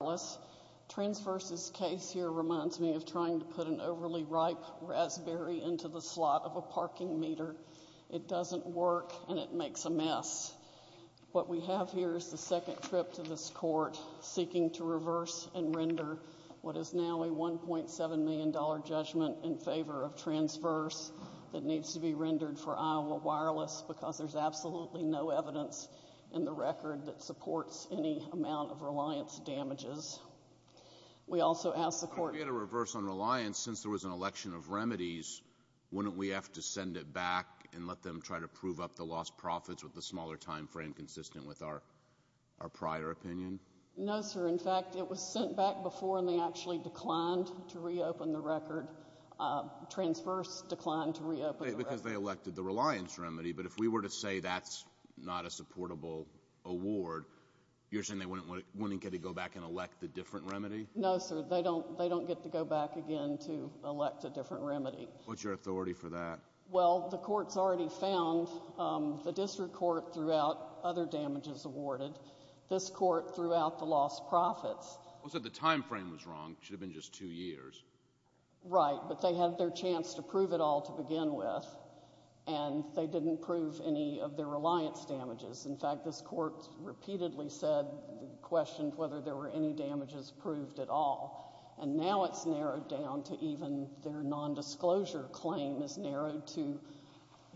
Wireless. Transverse's case here reminds me of trying to put an overly ripe raspberry into the slot of a parking meter. It doesn't work, and it makes a mess. What we have here is the second trip to this court seeking to reverse and render what is now a $1.7 million judgment in favor of Transverse that needs to be rendered for Iowa Wireless because there's absolutely no evidence in the record that supports any amount of reliance damages. We also ask the court— If we had a reverse on reliance, since there was an election of remedies, wouldn't we have to send it back and let them try to prove up the lost profits with the smaller time frame consistent with our prior opinion? No, sir. In fact, it was sent back before, and they actually declined to reopen the record. Transverse declined to reopen the record. Because they elected the reliance remedy. But if we were to say that's not a supportable award, you're saying they wouldn't get it to go back and elect a different remedy? No, sir. They don't get to go back again to elect a different remedy. What's your authority for that? Well, the court's already found the district court threw out other damages awarded. This court threw out the lost profits. Well, so the time frame was wrong. It should have been just two years. Right, but they had their chance to prove it all to begin with, and they didn't prove any of their reliance damages. In fact, this court repeatedly said, questioned whether there were any damages proved at all. And now it's narrowed down to even their nondisclosure claim is narrowed to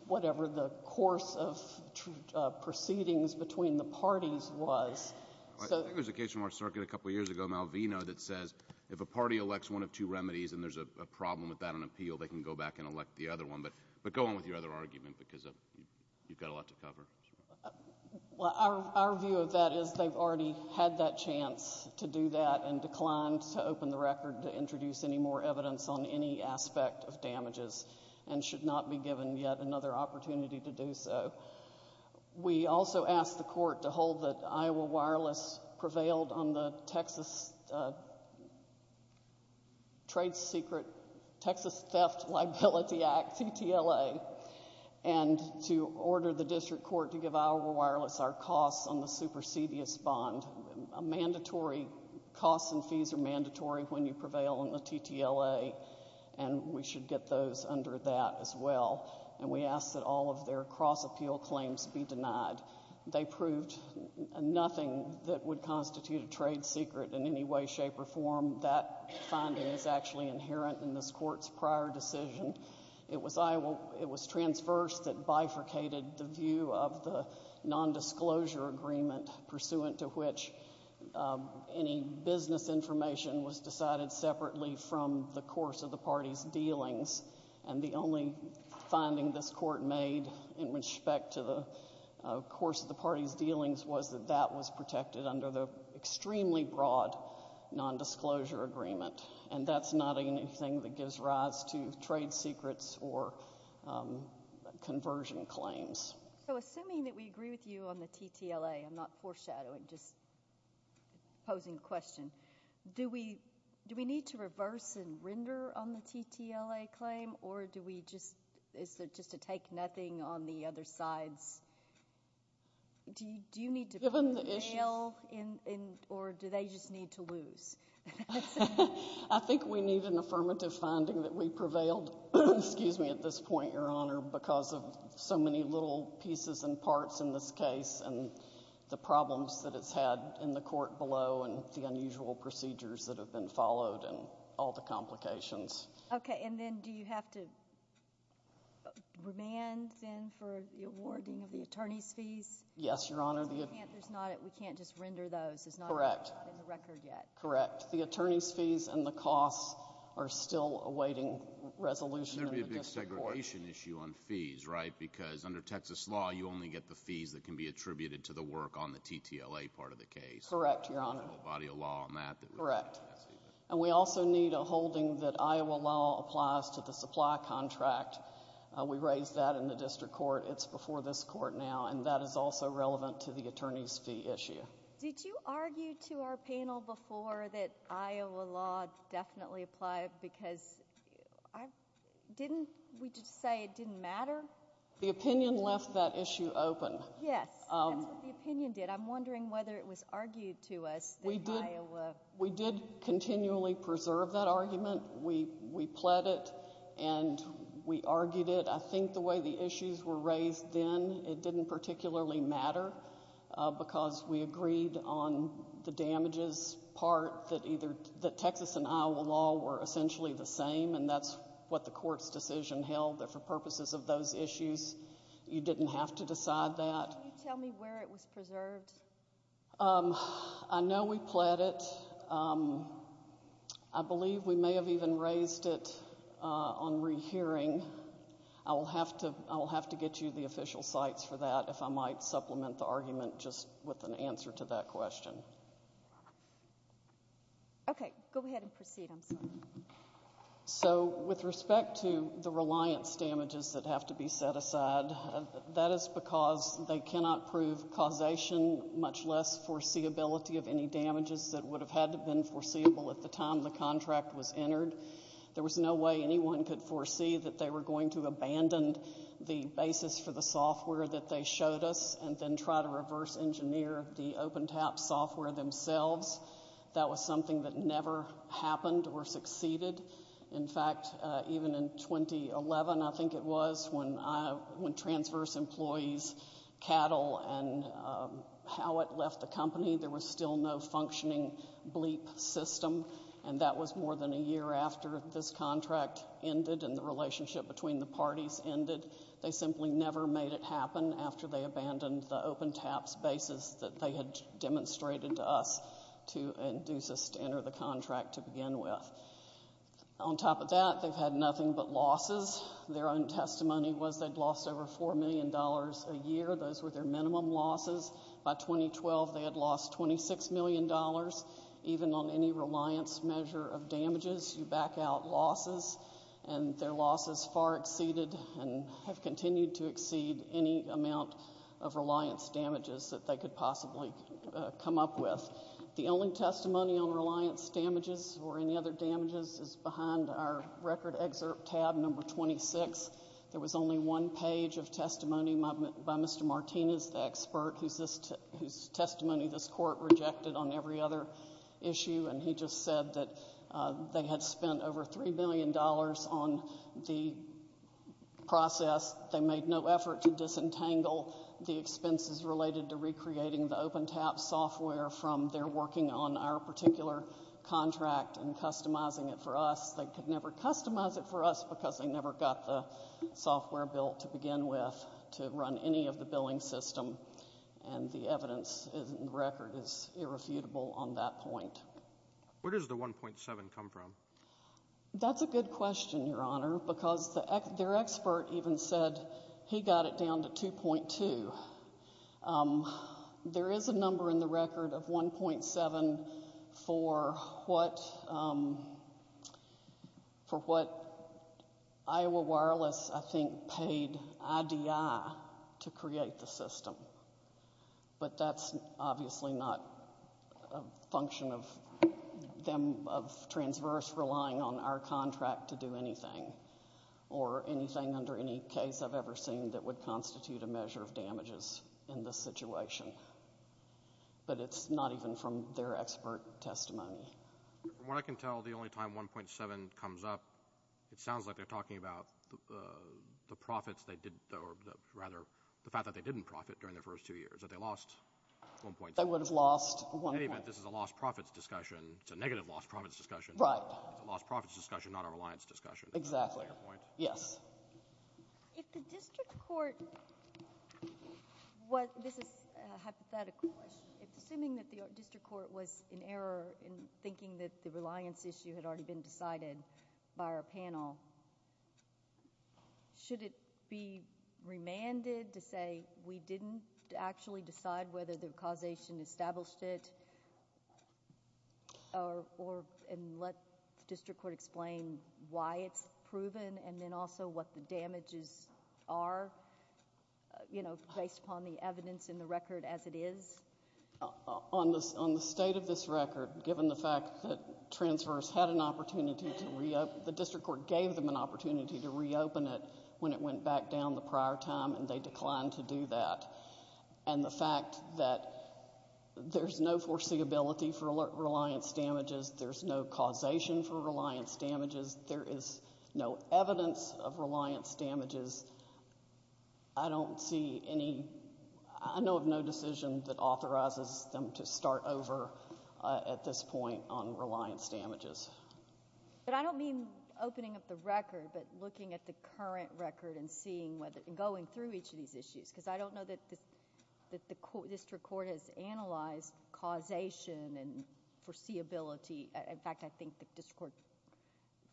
whatever the course of proceedings between the parties was. I think there was a case from our circuit a couple years ago, Malvino, that says if a party elects one of two remedies and there's a problem with that on appeal, they can go back and elect the other one. But go on with your other argument, because you've got a lot to cover. Well, our view of that is they've already had that chance to do that and declined to open the record to introduce any more evidence on any aspect of damages and should not be given yet another opportunity to do so. We also asked the court to hold that Iowa Wireless prevailed on the Texas trade secret Texas Theft Liability Act, TTLA, and to order the district court to give Iowa Wireless our costs on the supersedious bond. Costs and fees are mandatory when you prevail on the TTLA, and we should get those under that as well. And we asked that all of their cross-appeal claims be denied. They proved nothing that would constitute a trade secret in any way, shape, or form. That finding is actually inherent in this court's prior decision. It was transverse that bifurcated the view of the nondisclosure agreement pursuant to which any business information was decided separately from the course of the party's dealings. And the only finding this court made in respect to the course of the party's dealings was that that was protected under the extremely broad nondisclosure agreement. And that's not anything that gives rise to trade secrets or conversion claims. So, assuming that we agree with you on the TTLA, I'm not foreshadowing, just posing a question. Do we need to reverse and render on the TTLA claim, or do we just, is there just a take nothing on the other sides? Do you need to prevail, or do they just need to lose? I think we need an affirmative finding that we prevailed, excuse me, at this point, Your Honor, because of so many little pieces and parts in this case, and the problems that it's had in the court below, and the unusual procedures that have been followed, and all the complications. Okay, and then do you have to remand, then, for the awarding of the attorney's fees? Yes, Your Honor. Because we can't just render those. Correct. It's not in the record yet. Correct. The attorney's fees and the costs are still awaiting resolution in the district court. There'd be a big segregation issue on fees, right? Because under Texas law, you only get the fees that can be attributed to the work on the TTLA part of the case. Correct, Your Honor. You don't have a body of law on that. Correct. And we also need a holding that Iowa law applies to the supply contract. We raised that in the district court. It's before this court now, and that is also relevant to the attorney's fee issue. Did you argue to our panel before that Iowa law definitely applied? Because didn't we just say it didn't matter? The opinion left that issue open. Yes. That's what the opinion did. I'm wondering whether it was argued to us that Iowa... We did continually preserve that argument. We pled it, and we argued it. I think the way the issues were raised then, it didn't particularly matter, because we agreed on the damages part that Texas and Iowa law were essentially the same, and that's what the court's decision held, that for purposes of those issues, you didn't have to decide that. Can you tell me where it was preserved? I know we pled it. I believe we may have even raised it on rehearing. I will have to get you the official sites for that, if I might supplement the argument just with an answer to that question. Okay. Go ahead and proceed. So with respect to the reliance damages that have to be set aside, that is because they were being much less foreseeability of any damages that would have had to have been foreseeable at the time the contract was entered. There was no way anyone could foresee that they were going to abandon the basis for the software that they showed us, and then try to reverse engineer the OpenTAP software themselves. That was something that never happened or succeeded. In fact, even in 2011, I think it was, when Transverse Employees Cattle and Howitt left the company, there was still no functioning bleep system, and that was more than a year after this contract ended and the relationship between the parties ended. They simply never made it happen after they abandoned the OpenTAP's basis that they had On top of that, they've had nothing but losses. Their own testimony was they'd lost over $4 million a year. Those were their minimum losses. By 2012, they had lost $26 million. Even on any reliance measure of damages, you back out losses, and their losses far exceeded and have continued to exceed any amount of reliance damages that they could possibly come up with. The only testimony on reliance damages or any other damages is behind our record excerpt tab number 26. There was only one page of testimony by Mr. Martinez, the expert, whose testimony this court rejected on every other issue, and he just said that they had spent over $3 million on the process. They made no effort to disentangle the expenses related to recreating the OpenTAP software from their working on our particular contract and customizing it for us. They could never customize it for us because they never got the software built to begin with to run any of the billing system, and the evidence in the record is irrefutable on that point. Where does the 1.7 come from? That's a good question, Your Honor, because their expert even said he got it down to 2.2. There is a number in the record of 1.7 for what Iowa Wireless, I think, paid IDI to create the system, but that's obviously not a function of them, of Transverse, relying on our contract to do anything or anything under any case I've ever seen that would constitute a measure of damages in this situation, but it's not even from their expert testimony. From what I can tell, the only time 1.7 comes up, it sounds like they're talking about the profits they did, or rather, the fact that they didn't profit during the first two years, that they lost 1.7. They would have lost 1.7. In any event, this is a lost profits discussion. It's a negative lost profits discussion. Right. It's a lost profits discussion, not a reliance discussion. Exactly. Is that your point? Yes. If the district court... this is a hypothetical question. Assuming that the district court was in error in thinking that the reliance issue had already been decided by our panel, should it be remanded to say, we didn't actually decide whether the causation established it, and let the district court explain why it's proven, and then also what the damages are, based upon the evidence in the record as it is? On the state of this record, given the fact that transverse had an opportunity to reopen... the district court gave them an opportunity to reopen it when it went back down the prior time, and they declined to do that. The fact that there's no foreseeability for reliance damages, there's no causation for reliance damages, I don't see any... I know of no decision that authorizes them to start over at this point on reliance damages. I don't mean opening up the record, but looking at the current record and seeing whether... going through each of these issues, because I don't know that the district court has analyzed causation and foreseeability. In fact, I think the district court,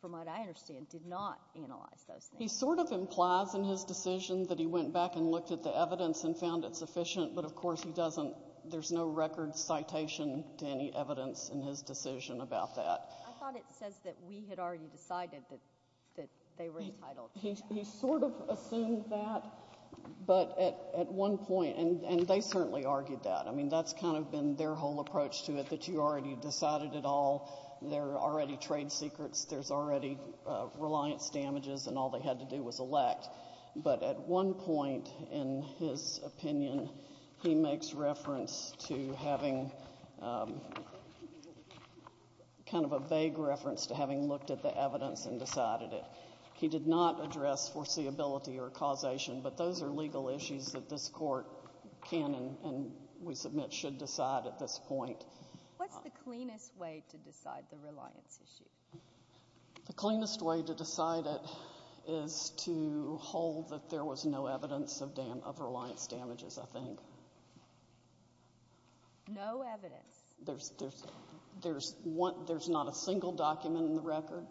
from what I understand, did not analyze those things. He sort of implies in his decision that he went back and looked at the evidence and found it sufficient, but of course he doesn't... there's no record citation to any evidence in his decision about that. I thought it says that we had already decided that they were entitled... He sort of assumed that, but at one point... and they certainly argued that. I mean, that's kind of been their whole approach to it, that you already decided it all. There are already trade secrets. There's already reliance damages, and all they had to do was elect. But at one point in his opinion, he makes reference to having... kind of a vague reference to having looked at the evidence and decided it. He did not address foreseeability or causation, but those are legal issues that this court can and, we submit, should decide at this point. What's the cleanest way to decide the reliance issue? The cleanest way to decide it is to hold that there was no evidence of reliance damages, I think. No evidence? There's not a single document in the record.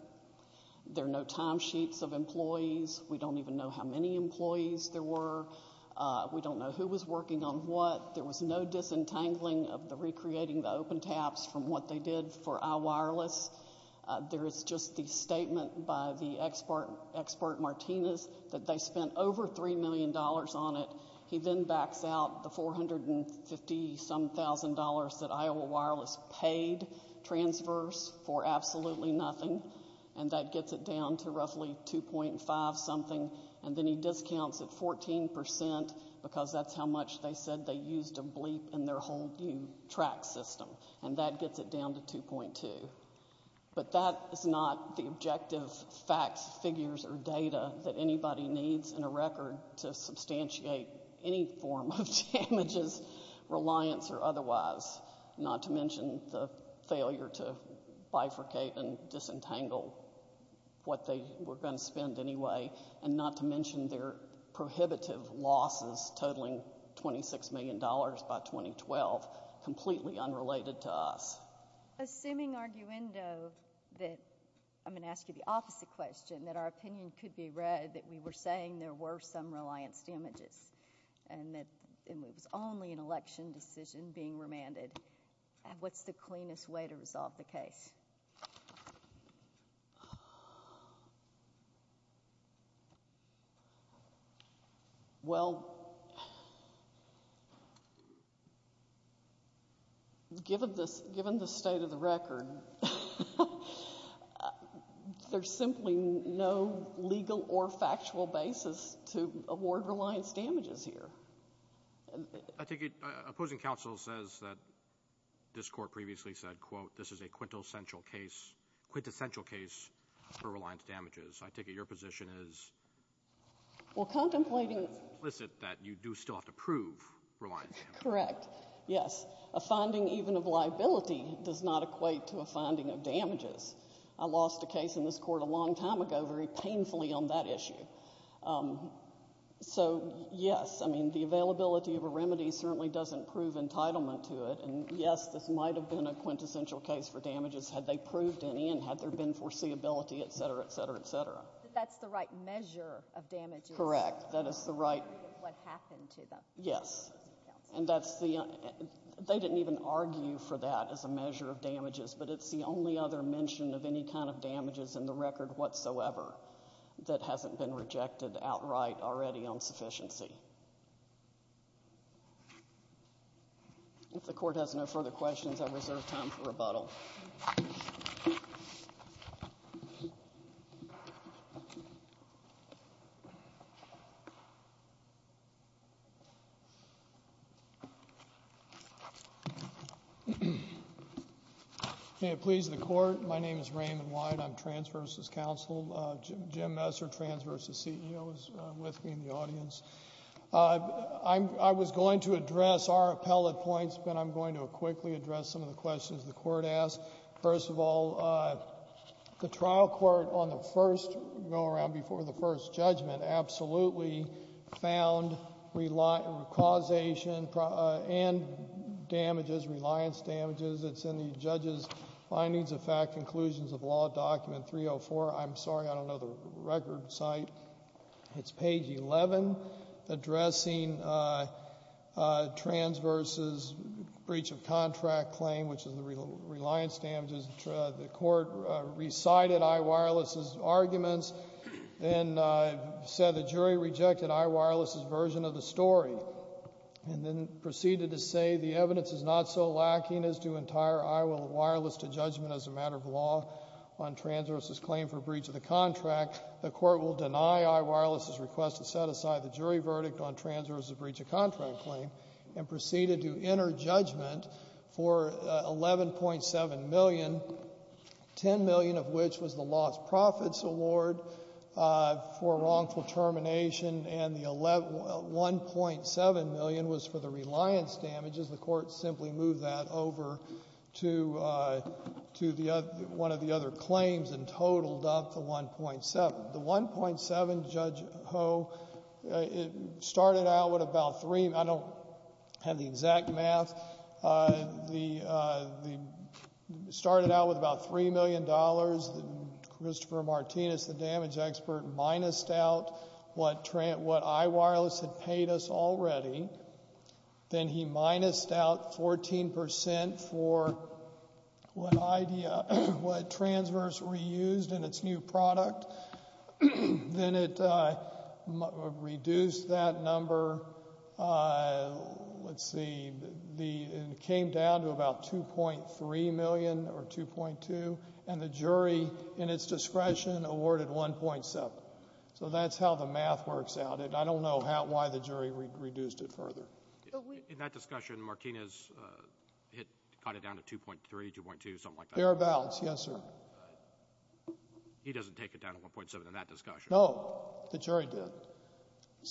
There are no timesheets of employees. We don't even know how many employees there were. We don't know who was working on what. There was no disentangling of the recreating the open taps from what they did for iWireless. There is just the statement by the expert, Expert Martinez, that they spent over $3 million on it. He then backs out the $450-some-thousand that iWireless paid, transverse, for absolutely nothing. And that gets it down to roughly 2.5-something. And then he discounts it 14% because that's how much they said they used of BLEEP in their whole new track system. And that gets it down to 2.2. But that is not the objective facts, figures, or data that anybody needs in a record to substantiate any form of damages, reliance or otherwise, not to mention the failure to bifurcate and disentangle what they were going to spend anyway. And not to mention their prohibitive losses totaling $26 million by 2012, completely unrelated to us. Assuming, arguendo, that I'm going to ask you the opposite question, that our opinion could be read that we were saying there were some reliance damages, and that it was only an election decision being remanded, what's the cleanest way to resolve the case? Well, given the state of the record, there's simply no legal or factual basis to award reliance damages here. I take it opposing counsel says that this court previously said, quote, this is a quintessential case for reliance damages. I take it your position is- Well, contemplating- Implicit that you do still have to prove reliance damages. Correct, yes. A finding even of liability does not equate to a finding of damages. I lost a case in this court a long time ago, very painfully on that issue. So yes, I mean, the availability of a remedy certainly doesn't prove entitlement to it. And yes, this might have been a quintessential case for damages had they proved any, and had there been foreseeability, etc., etc., etc. That's the right measure of damages. Correct. That is the right- What happened to them. Yes. And that's the, they didn't even argue for that as a measure of damages, but it's the only other mention of any kind of damages in the record whatsoever that hasn't been rejected outright already on sufficiency. If the court has no further questions, I reserve time for rebuttal. May it please the court, my name is Raymond White, I'm trans versus counsel. Jim Messer, trans versus CEO, is with me in the audience. I was going to address our appellate points, but I'm going to quickly address some of the questions the court asked. First of all, the trial court on the first go-around, before the first judgment, absolutely found causation and damages, reliance damages. It's in the judge's findings of fact conclusions of law document 304. I'm sorry, I don't know the record site. It's page 11, addressing trans versus breach of contract claim, which is the reliance damages, the court recited iWireless's arguments. And said the jury rejected iWireless's version of the story. And then proceeded to say the evidence is not so lacking as to entire iWireless to judgment as a matter of law on trans versus claim for breach of the contract. The court will deny iWireless's request to set aside the jury verdict on trans versus breach of contract claim, and proceeded to enter judgment for 11.7 million. 10 million of which was the lost profits award for wrongful termination and the 1.7 million was for the reliance damages. The court simply moved that over to one of the other claims and the 1.7, the 1.7, Judge Ho, it started out with about three, I don't have the exact math, started out with about $3 million. Christopher Martinez, the damage expert, minused out what iWireless had paid us already. Then he minused out 14% for what transverse reused and its new product, then it reduced that number. Let's see, it came down to about 2.3 million or 2.2. And the jury, in its discretion, awarded 1.7. So that's how the math works out, and I don't know why the jury reduced it further. In that discussion, Martinez cut it down to 2.3, 2.2, something like that? Bare bouts, yes, sir. He doesn't take it down to 1.7 in that discussion. No, the jury did,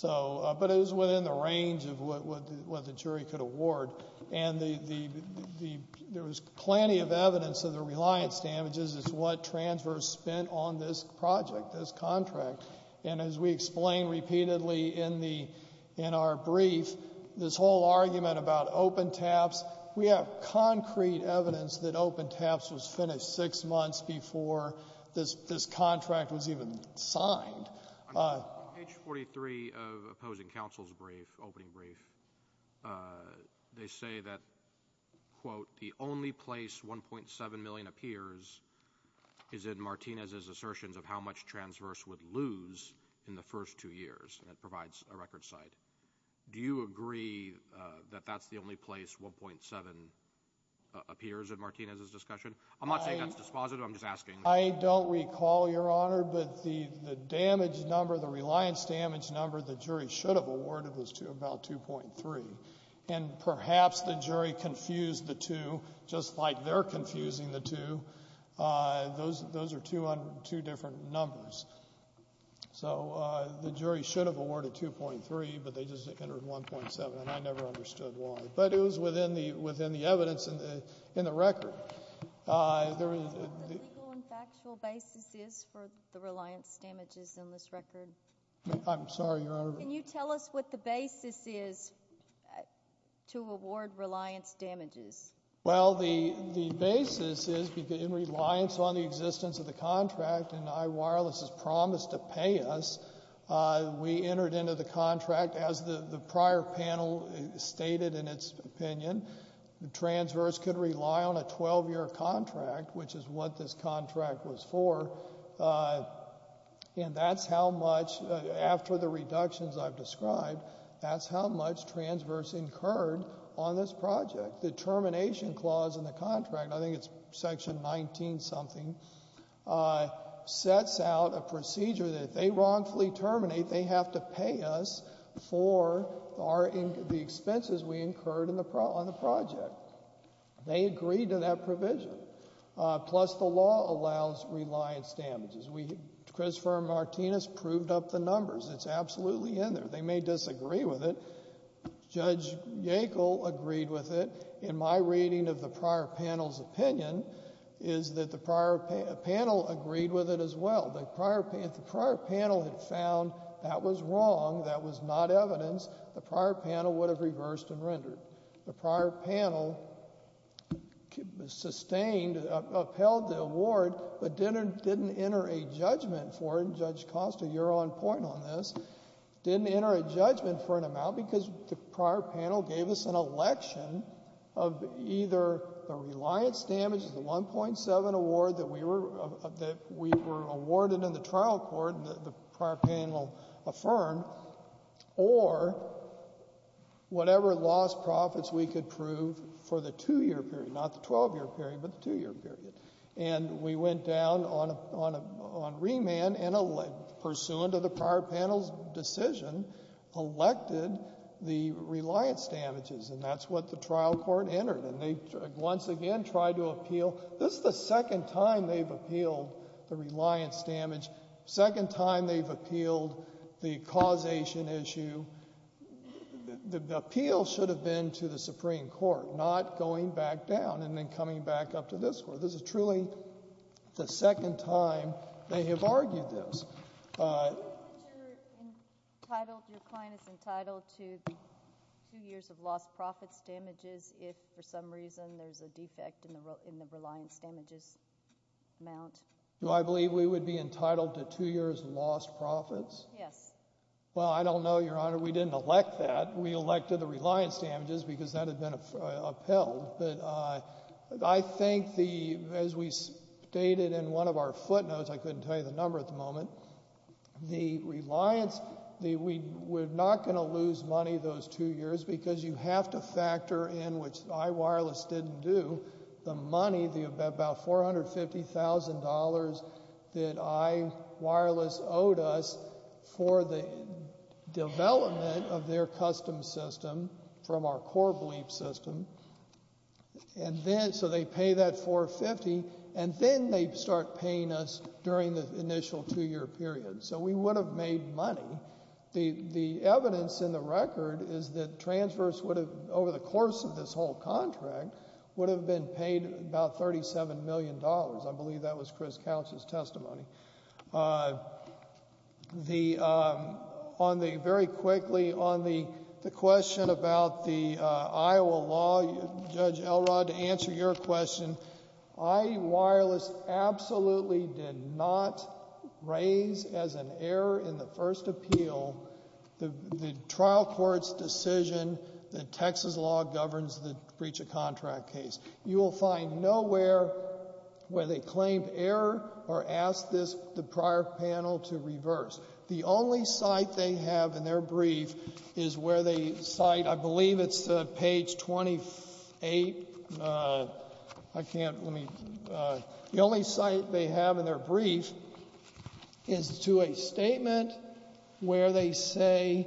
but it was within the range of what the jury could award. And there was plenty of evidence of the reliance damages as to what transverse spent on this project, this contract. And as we explained repeatedly in our brief, this whole argument about open TAPs, we have concrete evidence that open TAPs was finished six months before this contract was even signed. On page 43 of opposing counsel's opening brief, they say that, quote, the only place 1.7 million appears is in Martinez's assertions of how much transverse would lose in the first two years, and it provides a record site. Do you agree that that's the only place 1.7 appears in Martinez's discussion? I'm not saying that's dispositive, I'm just asking. I don't recall, Your Honor, but the damage number, the reliance damage number the jury should have awarded was to about 2.3. And perhaps the jury confused the two, just like they're confusing the two, those are two different numbers. So the jury should have awarded 2.3, but they just entered 1.7, and I never understood why. But it was within the evidence in the record. What the legal and factual basis is for the reliance damages in this record? I'm sorry, Your Honor. Can you tell us what the basis is to award reliance damages? Well, the basis is in reliance on the existence of the contract, and iWireless has promised to pay us. We entered into the contract, as the prior panel stated in its opinion, transverse could rely on a 12-year contract, which is what this contract was for. And that's how much, after the reductions I've described, that's how much transverse incurred on this project. The termination clause in the contract, I think it's section 19-something, sets out a procedure that if they wrongfully terminate, they have to pay us for the expenses we incurred on the project. They agreed to that provision, plus the law allows reliance damages. Christopher Martinez proved up the numbers. It's absolutely in there. They may disagree with it. Judge Yackel agreed with it. In my reading of the prior panel's opinion, is that the prior panel agreed with it as well. If the prior panel had found that was wrong, that was not evidence, the prior panel would have reversed and rendered. The prior panel sustained, upheld the award, but didn't enter a judgment for it. Judge Costa, you're on point on this. Didn't enter a judgment for an amount because the prior panel gave us an election of either the reliance damages, the 1.7 award that we were awarded in the trial court that the prior panel affirmed. Or whatever lost profits we could prove for the two-year period, not the 12-year period, but the two-year period. And we went down on remand and pursuant to the prior panel's decision, elected the reliance damages. And that's what the trial court entered. And they once again tried to appeal. This is the second time they've appealed the reliance damage, second time they've appealed the causation issue. The appeal should have been to the Supreme Court, not going back down and then coming back up to this court. But this is truly the second time they have argued this. Do you believe that you're entitled, your client is entitled to two years of lost profits damages if, for some reason, there's a defect in the reliance damages amount? Do I believe we would be entitled to two years lost profits? Yes. Well, I don't know, Your Honor. We didn't elect that. We elected the reliance damages because that had been upheld. But I think the, as we stated in one of our footnotes, I couldn't tell you the number at the moment. The reliance, we're not going to lose money those two years because you have to factor in, which iWireless didn't do, the money, about $450,000 that iWireless owed us for the development of their custom system, from our core belief system, and then, so they pay that $450,000, and then they start paying us during the initial two-year period. So we would have made money. The evidence in the record is that transverse would have, over the course of this whole contract, would have been paid about $37 million. I believe that was Chris Couch's testimony. The, on the, very quickly, on the question about the Iowa law, Judge Elrod, to answer your question, iWireless absolutely did not raise, as an error in the first appeal, the trial court's decision that Texas law governs the breach of contract case. You will find nowhere where they claimed error or asked this, the prior panel, to reverse. The only site they have in their brief is where they cite, I believe it's page 28, I can't, let me, the only site they have in their brief is to a statement where they say,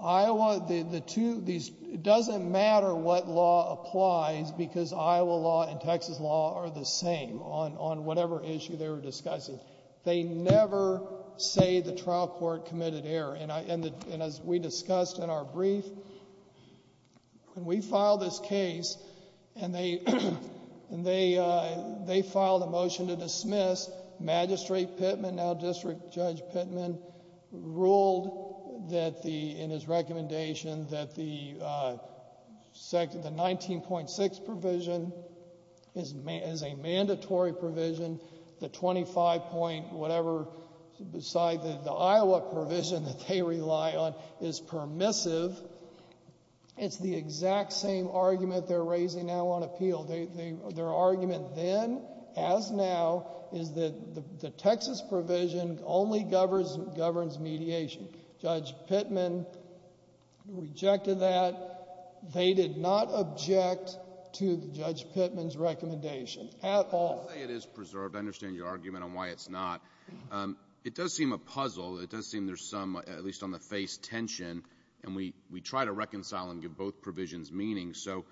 Iowa, the two, these, it doesn't matter what law applies, because Iowa law and Texas law are the same on whatever issue they were discussing. They never say the trial court committed error, and as we discussed in our brief, when we filed this case, and they filed a motion to dismiss, Magistrate Pittman, now District Judge Pittman, ruled that the, in his recommendation, that the 19.6 provision is a mandatory provision, the 25 point whatever, beside the Iowa provision that they rely on, is permissive. It's the exact same argument they're raising now on appeal. Their argument then, as now, is that the Texas provision only governs mediation. Judge Pittman rejected that. They did not object to Judge Pittman's recommendation at all. I'll say it is preserved. I understand your argument on why it's not. It does seem a puzzle. It does seem there's some, at least on the face, tension, and we try to reconcile and give both provisions meaning. So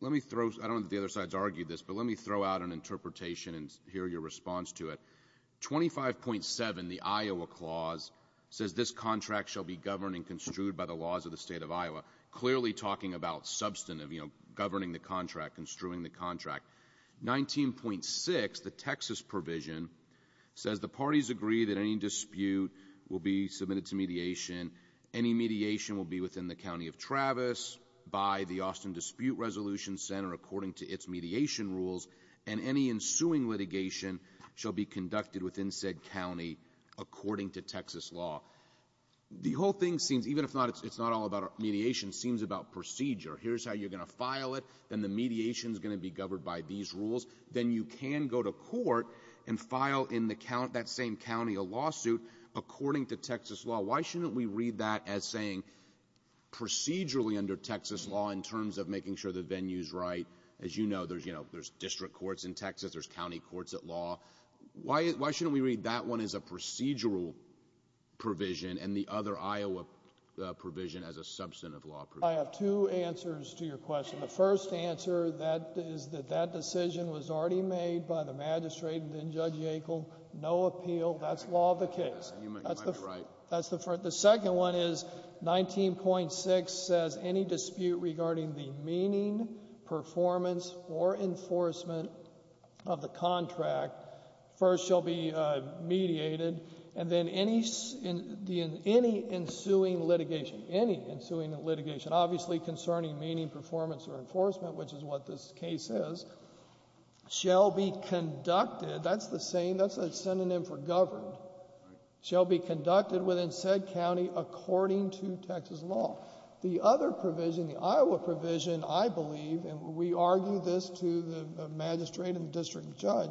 let me throw, I don't know if the other side's argued this, but let me throw out an interpretation and hear your response to it. 25.7, the Iowa clause, says this contract shall be governed and construed by the laws of the state of Iowa, clearly talking about substantive, governing the contract, construing the contract. 19.6, the Texas provision, says the parties agree that any dispute will be submitted to mediation. Any mediation will be within the county of Travis, by the Austin Dispute Resolution Center, according to its mediation rules. And any ensuing litigation shall be conducted within said county according to Texas law. The whole thing seems, even if it's not all about mediation, seems about procedure. Here's how you're going to file it, then the mediation's going to be governed by these rules. Then you can go to court and file in that same county a lawsuit according to Texas law. Why shouldn't we read that as saying procedurally under Texas law in terms of making sure the venue's right? As you know, there's district courts in Texas, there's county courts at law. Why shouldn't we read that one as a procedural provision and the other Iowa provision as a substantive law provision? I have two answers to your question. The first answer is that that decision was already made by the magistrate and then Judge Yackel. No appeal, that's law of the case. That's the first. The second one is 19.6 says any dispute regarding the meaning, performance, or enforcement of the contract first shall be mediated. And then any ensuing litigation, any ensuing litigation, obviously concerning meaning, performance, or enforcement, which is what this case is, shall be conducted. That's the same, that's a synonym for governed, shall be conducted within said county according to Texas law. The other provision, the Iowa provision, I believe, and we argue this to the magistrate and the district judge,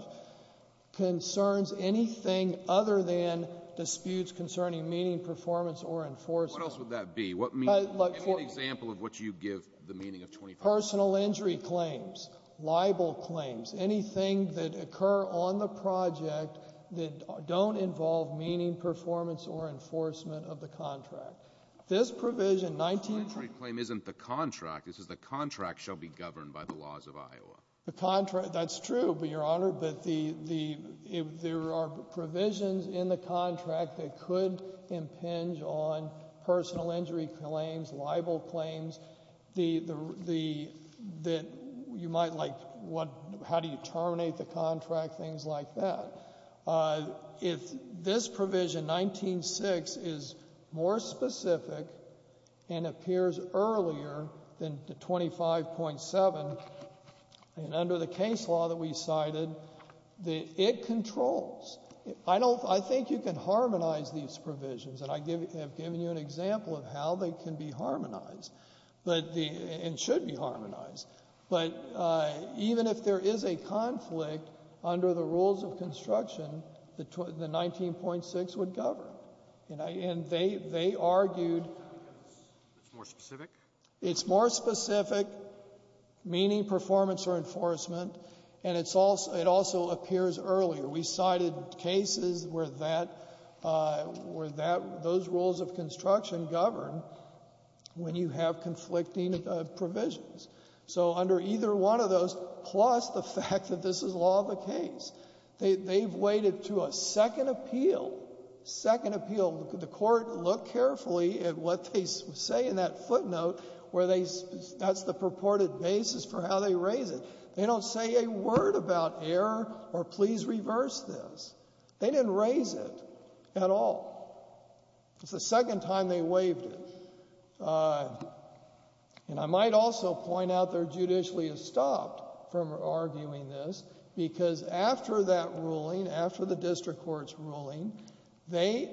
concerns anything other than disputes concerning meaning, performance, or enforcement. What else would that be? What means, give me an example of what you give the meaning of 25. Personal injury claims, libel claims, anything that occur on the project that don't involve meaning, performance, or enforcement of the contract. This provision 19- Personal injury claim isn't the contract, this is the contract shall be governed by the laws of Iowa. The contract, that's true, but your honor, but there are provisions in the contract that could impinge on personal injury claims, libel claims. The, that you might like what, how do you terminate the contract, things like that. If this provision, 19-6, is more specific and appears earlier than the 25.7, and under the case law that we cited, that it controls. I don't, I think you can harmonize these provisions. And I have given you an example of how they can be harmonized, but the, and should be harmonized. But even if there is a conflict under the rules of construction, the 19.6 would govern, and I, and they, they argued. It's more specific? It's more specific, meaning performance or enforcement, and it's also, it also appears earlier. We cited cases where that, where that, those rules of construction govern when you have conflicting provisions. So under either one of those, plus the fact that this is law of the case, they've waited to a second appeal. Second appeal, the court looked carefully at what they say in that footnote where they, that's the purported basis for how they raise it. They don't say a word about error or please reverse this. They didn't raise it at all. It's the second time they waived it. And I might also point out they're judicially stopped from arguing this, because after that ruling, after the district court's ruling, they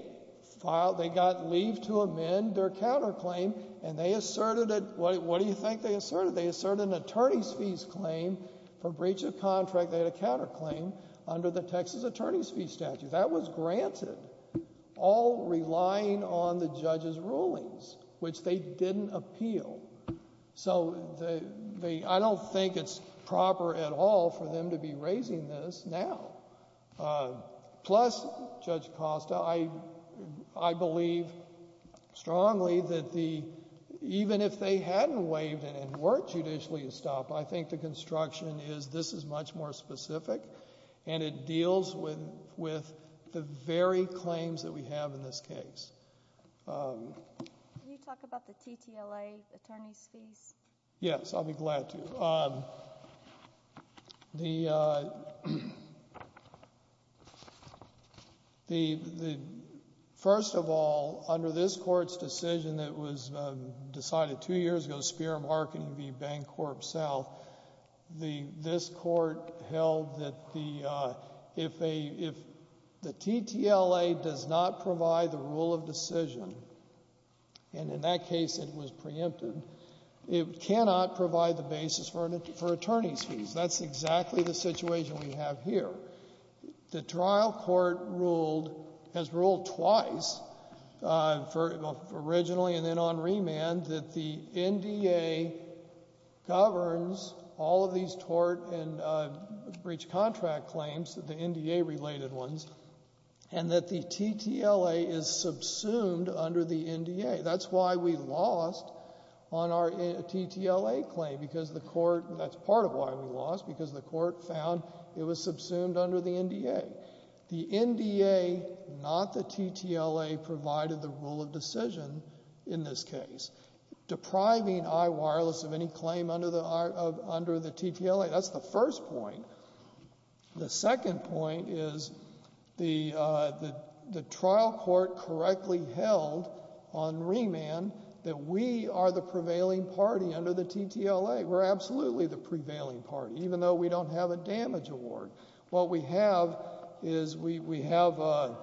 filed, they got leave to amend their counterclaim, and they asserted it, what do you think they asserted? They asserted an attorney's fees claim for breach of contract. They had a counterclaim under the Texas attorney's fee statute. That was granted, all relying on the judge's rulings, which they didn't appeal. So the, the, I don't think it's proper at all for them to be raising this now. Plus, Judge Costa, I, I believe strongly that the, even if they hadn't waived it and weren't judicially stopped, I think the construction is, this is much more specific. And it deals with, with the very claims that we have in this case. Can you talk about the TTLA, attorney's fees? Yes, I'll be glad to. The, the, the, first of all, under this court's decision that was decided two years ago, Speer Marketing v. Bancorp South, the, this court held that the, if a, if the TTLA does not provide the rule of decision, and in that case it was preempted, it cannot provide the basis for an, for attorney's fees. That's exactly the situation we have here. The trial court ruled, has ruled twice, for, originally and then on remand, that the NDA governs all of these tort and breach contract claims, the NDA related ones, and that the TTLA is subsumed under the NDA. That's why we lost on our TTLA claim, because the court, that's part of why we lost, because the court found it was subsumed under the NDA. The NDA, not the TTLA, provided the rule of decision in this case. Depriving iWireless of any claim under the, under the TTLA, that's the first point. The second point is the the trial court correctly held on remand that we are the prevailing party under the TTLA. We're absolutely the prevailing party, even though we don't have a damage award. What we have is, we, we have a. A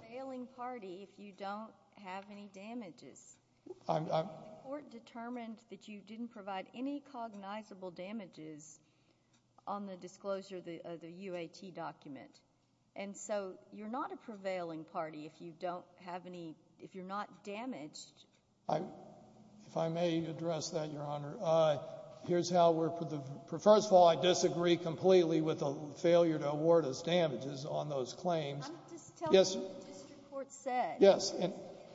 prevailing party if you don't have any damages. I'm, I'm. The court determined that you didn't provide any cognizable damages on the disclosure of the, of the UAT document. And so, you're not a prevailing party if you don't have any, if you're not damaged. I, if I may address that, Your Honor. Here's how we're, first of all, I disagree completely with the failure to award us damages on those claims. I'm just telling you what the district court said. Yes.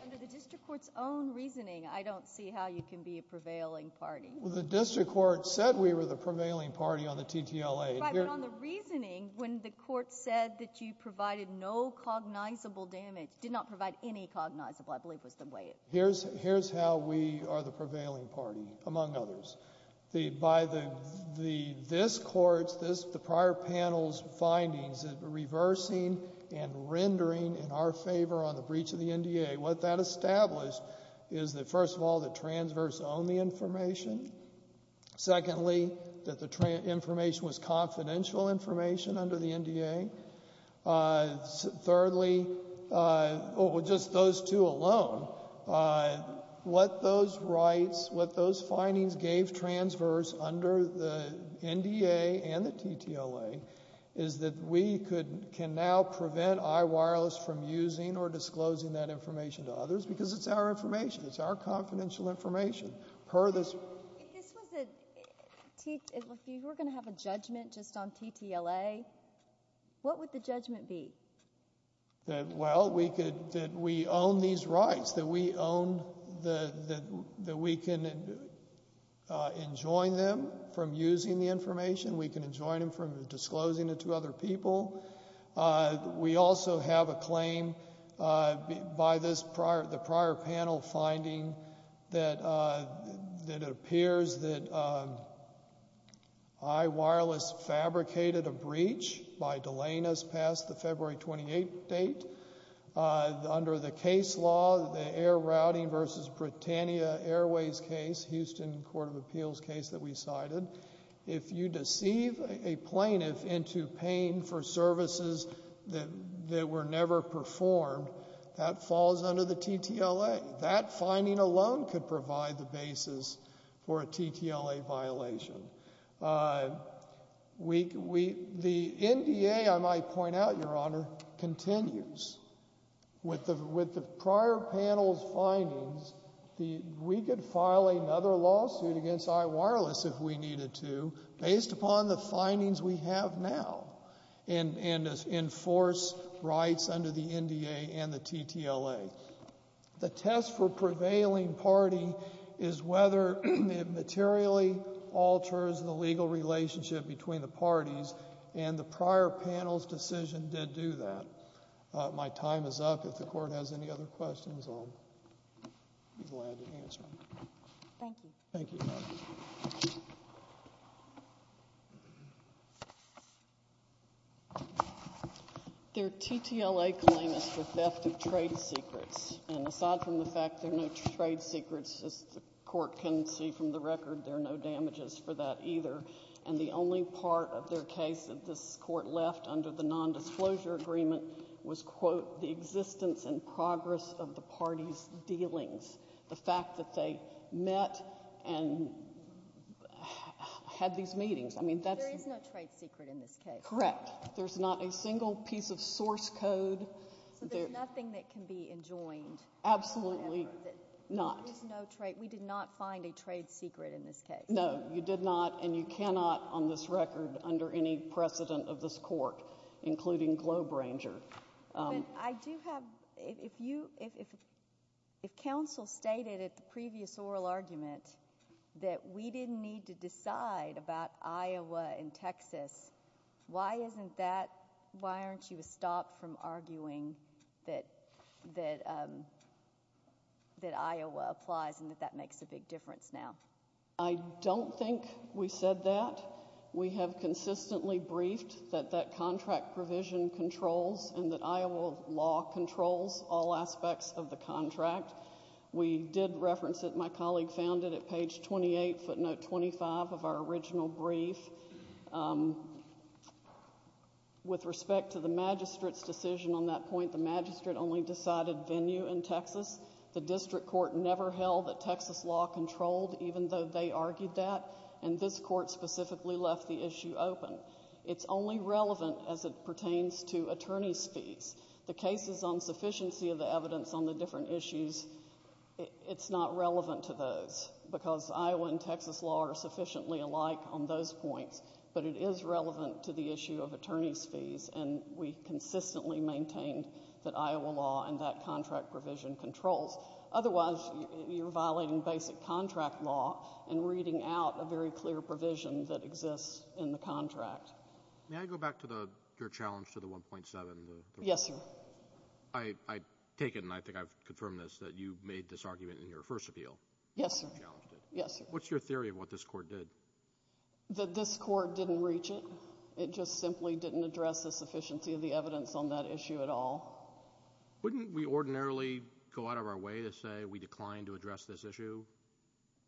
Under the district court's own reasoning, I don't see how you can be a prevailing party. Well, the district court said we were the prevailing party on the TTLA. Right, but on the reasoning, when the court said that you provided no cognizable damage, did not provide any cognizable, I believe was the way it. Here's, here's how we are the prevailing party, among others. The, by the, the, this court's, this, the prior panel's findings, reversing and rendering in our favor on the breach of the NDA. What that established is that first of all, that transverse owned the information. Secondly, that the trans, information was confidential information under the NDA. Thirdly, well, just those two alone, what those rights, what those findings gave transverse under the NDA and the TTLA. Is that we could, can now prevent iWireless from using or disclosing that information to others, because it's our information. It's our confidential information. Per this. This was a, if you were going to have a judgment just on TTLA, what would the judgment be? That, well, we could, that we own these rights. That we own the, the, that we can enjoin them from using the information. We can enjoin them from disclosing it to other people. We also have a claim by this prior, the prior panel finding. That it appears that iWireless fabricated a breach by delaying us past the February 28th date. Under the case law, the air routing versus Britannia Airways case, Houston Court of Appeals case that we cited. If you deceive a plaintiff into paying for services that were never performed. That falls under the TTLA. That finding alone could provide the basis for a TTLA violation. We, we, the NDA, I might point out, your honor, continues. With the, with the prior panel's findings, the, we could file another lawsuit against iWireless if we needed to. Based upon the findings we have now. And, and enforce rights under the NDA and the TTLA. The test for prevailing party is whether it materially alters the legal relationship between the parties. And the prior panel's decision did do that. My time is up. If the court has any other questions, I'll be glad to answer them. Thank you. Thank you. Their TTLA claim is for theft of trade secrets. And aside from the fact there are no trade secrets, as the court can see from the record, there are no damages for that either. And the only part of their case that this court left under the non-disclosure agreement was, quote, the existence and progress of the party's dealings. The fact that they met and had these meetings. I mean, that's- There is no trade secret in this case. Correct. There's not a single piece of source code. So there's nothing that can be enjoined. Absolutely not. There's no trade, we did not find a trade secret in this case. No, you did not, and you cannot on this record, under any precedent of this court, including Globe Ranger. I do have, if you, if, if, if counsel stated at the previous oral argument that we didn't need to decide about Iowa and Texas, why isn't that, why aren't you stopped from arguing that, that that Iowa applies and that that makes a big difference now? I don't think we said that. We have consistently briefed that that contract provision controls and that Iowa law controls all aspects of the contract. We did reference it. My colleague found it at page 28, footnote 25 of our original brief. With respect to the magistrate's decision on that point, the magistrate only decided venue in Texas. The district court never held that Texas law controlled, even though they argued that. And this court specifically left the issue open. It's only relevant as it pertains to attorney's fees. The cases on sufficiency of the evidence on the different issues, it's not relevant to those, because Iowa and Texas law are sufficiently alike on those points. But it is relevant to the issue of attorney's fees, and we consistently maintain that Iowa law and that contract provision controls. Otherwise, you're violating basic contract law and reading out a very clear provision that exists in the contract. May I go back to your challenge to the 1.7? Yes, sir. I take it, and I think I've confirmed this, that you made this argument in your first appeal. Yes, sir. Yes, sir. What's your theory of what this court did? That this court didn't reach it. It just simply didn't address the sufficiency of the evidence on that issue at all. Wouldn't we ordinarily go out of our way to say we declined to address this issue?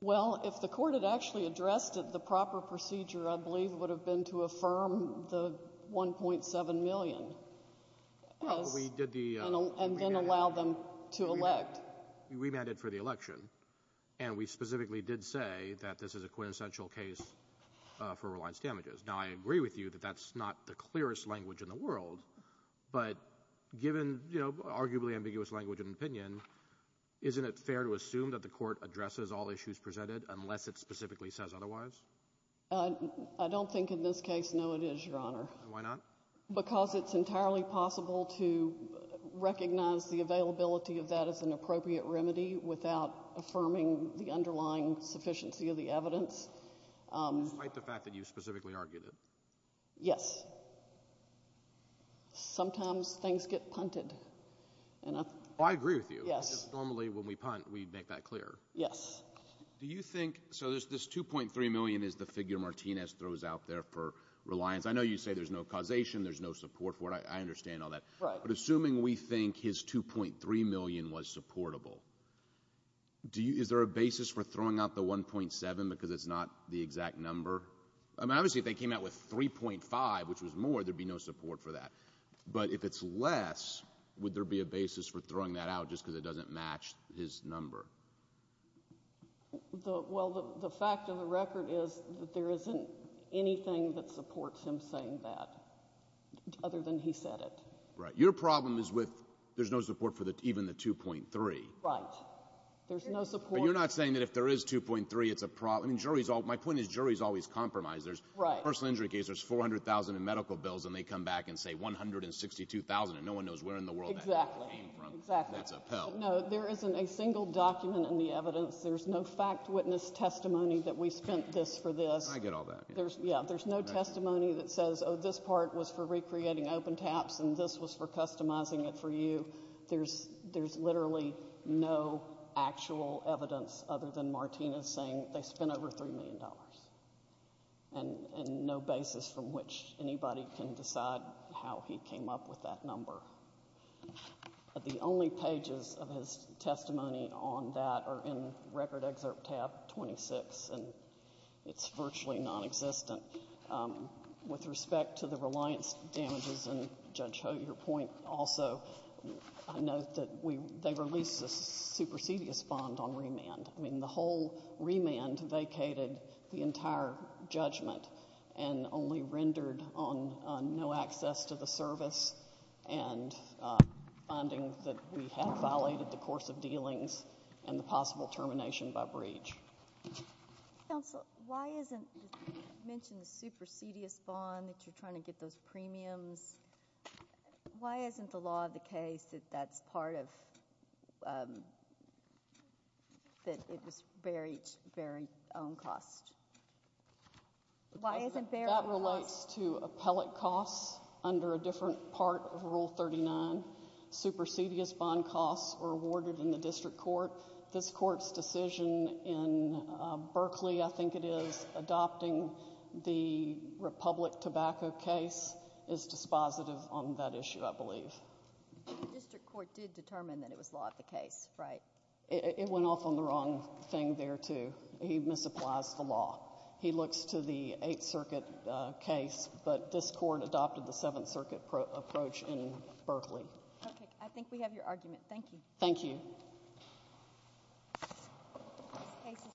Well, if the court had actually addressed it, the proper procedure, I believe, would have been to affirm the 1.7 million. Well, we did the- And then allow them to elect. We remanded for the election, and we specifically did say that this is a quintessential case for reliance damages. Now, I agree with you that that's not the clearest language in the world. But given arguably ambiguous language and opinion, isn't it fair to assume that the court addresses all issues presented unless it specifically says otherwise? I don't think in this case, no, it is, Your Honor. Why not? Because it's entirely possible to recognize the availability of that as an appropriate remedy without affirming the underlying sufficiency of the evidence. Despite the fact that you specifically argued it. Yes. Sometimes things get punted. I agree with you. Yes. Normally when we punt, we make that clear. Yes. Do you think, so this 2.3 million is the figure Martinez throws out there for reliance, I know you say there's no causation, there's no support for it, I understand all that. Right. But assuming we think his 2.3 million was supportable, is there a basis for throwing out the 1.7 because it's not the exact number? I mean, obviously if they came out with 3.5, which was more, there'd be no support for that. But if it's less, would there be a basis for throwing that out just because it doesn't match his number? Well, the fact of the record is that there isn't anything that supports him saying that, other than he said it. Right. Your problem is with, there's no support for even the 2.3. Right. There's no support. But you're not saying that if there is 2.3, it's a problem. My point is, juries always compromise. There's a personal injury case, there's 400,000 in medical bills, and they come back and say 162,000, and no one knows where in the world that came from. Exactly, exactly. That's a pill. No, there isn't a single document in the evidence. There's no fact witness testimony that we spent this for this. I get all that. Yeah, there's no testimony that says, this part was for recreating open taps and this was for customizing it for you. There's literally no actual evidence other than Martinez saying they spent over $3 million, and no basis from which anybody can decide how he came up with that number. The only pages of his testimony on that are in record excerpt tab 26, and it's virtually non-existent. With respect to the reliance damages, and Judge Ho, your point, also, I note that they released a supersedious bond on remand. I mean, the whole remand vacated the entire judgment, and only rendered on no access to the service, and funding that we have violated the course of dealings, and the possible termination by breach. Counsel, why isn't, you mentioned the supersedious bond, that you're trying to get those premiums. Why isn't the law of the case that that's part of, that it was very, very own cost? Why isn't there- That relates to appellate costs under a different part of Rule 39. Supersedious bond costs are awarded in the district court. This court's decision in Berkeley, I think it is, adopting the Republic Tobacco case is dispositive on that issue, I believe. District court did determine that it was law of the case, right? It went off on the wrong thing there, too. He misapplies the law. He looks to the Eighth Circuit case, but this court adopted the Seventh Circuit approach in Berkeley. Okay, I think we have your argument. Thank you. Thank you.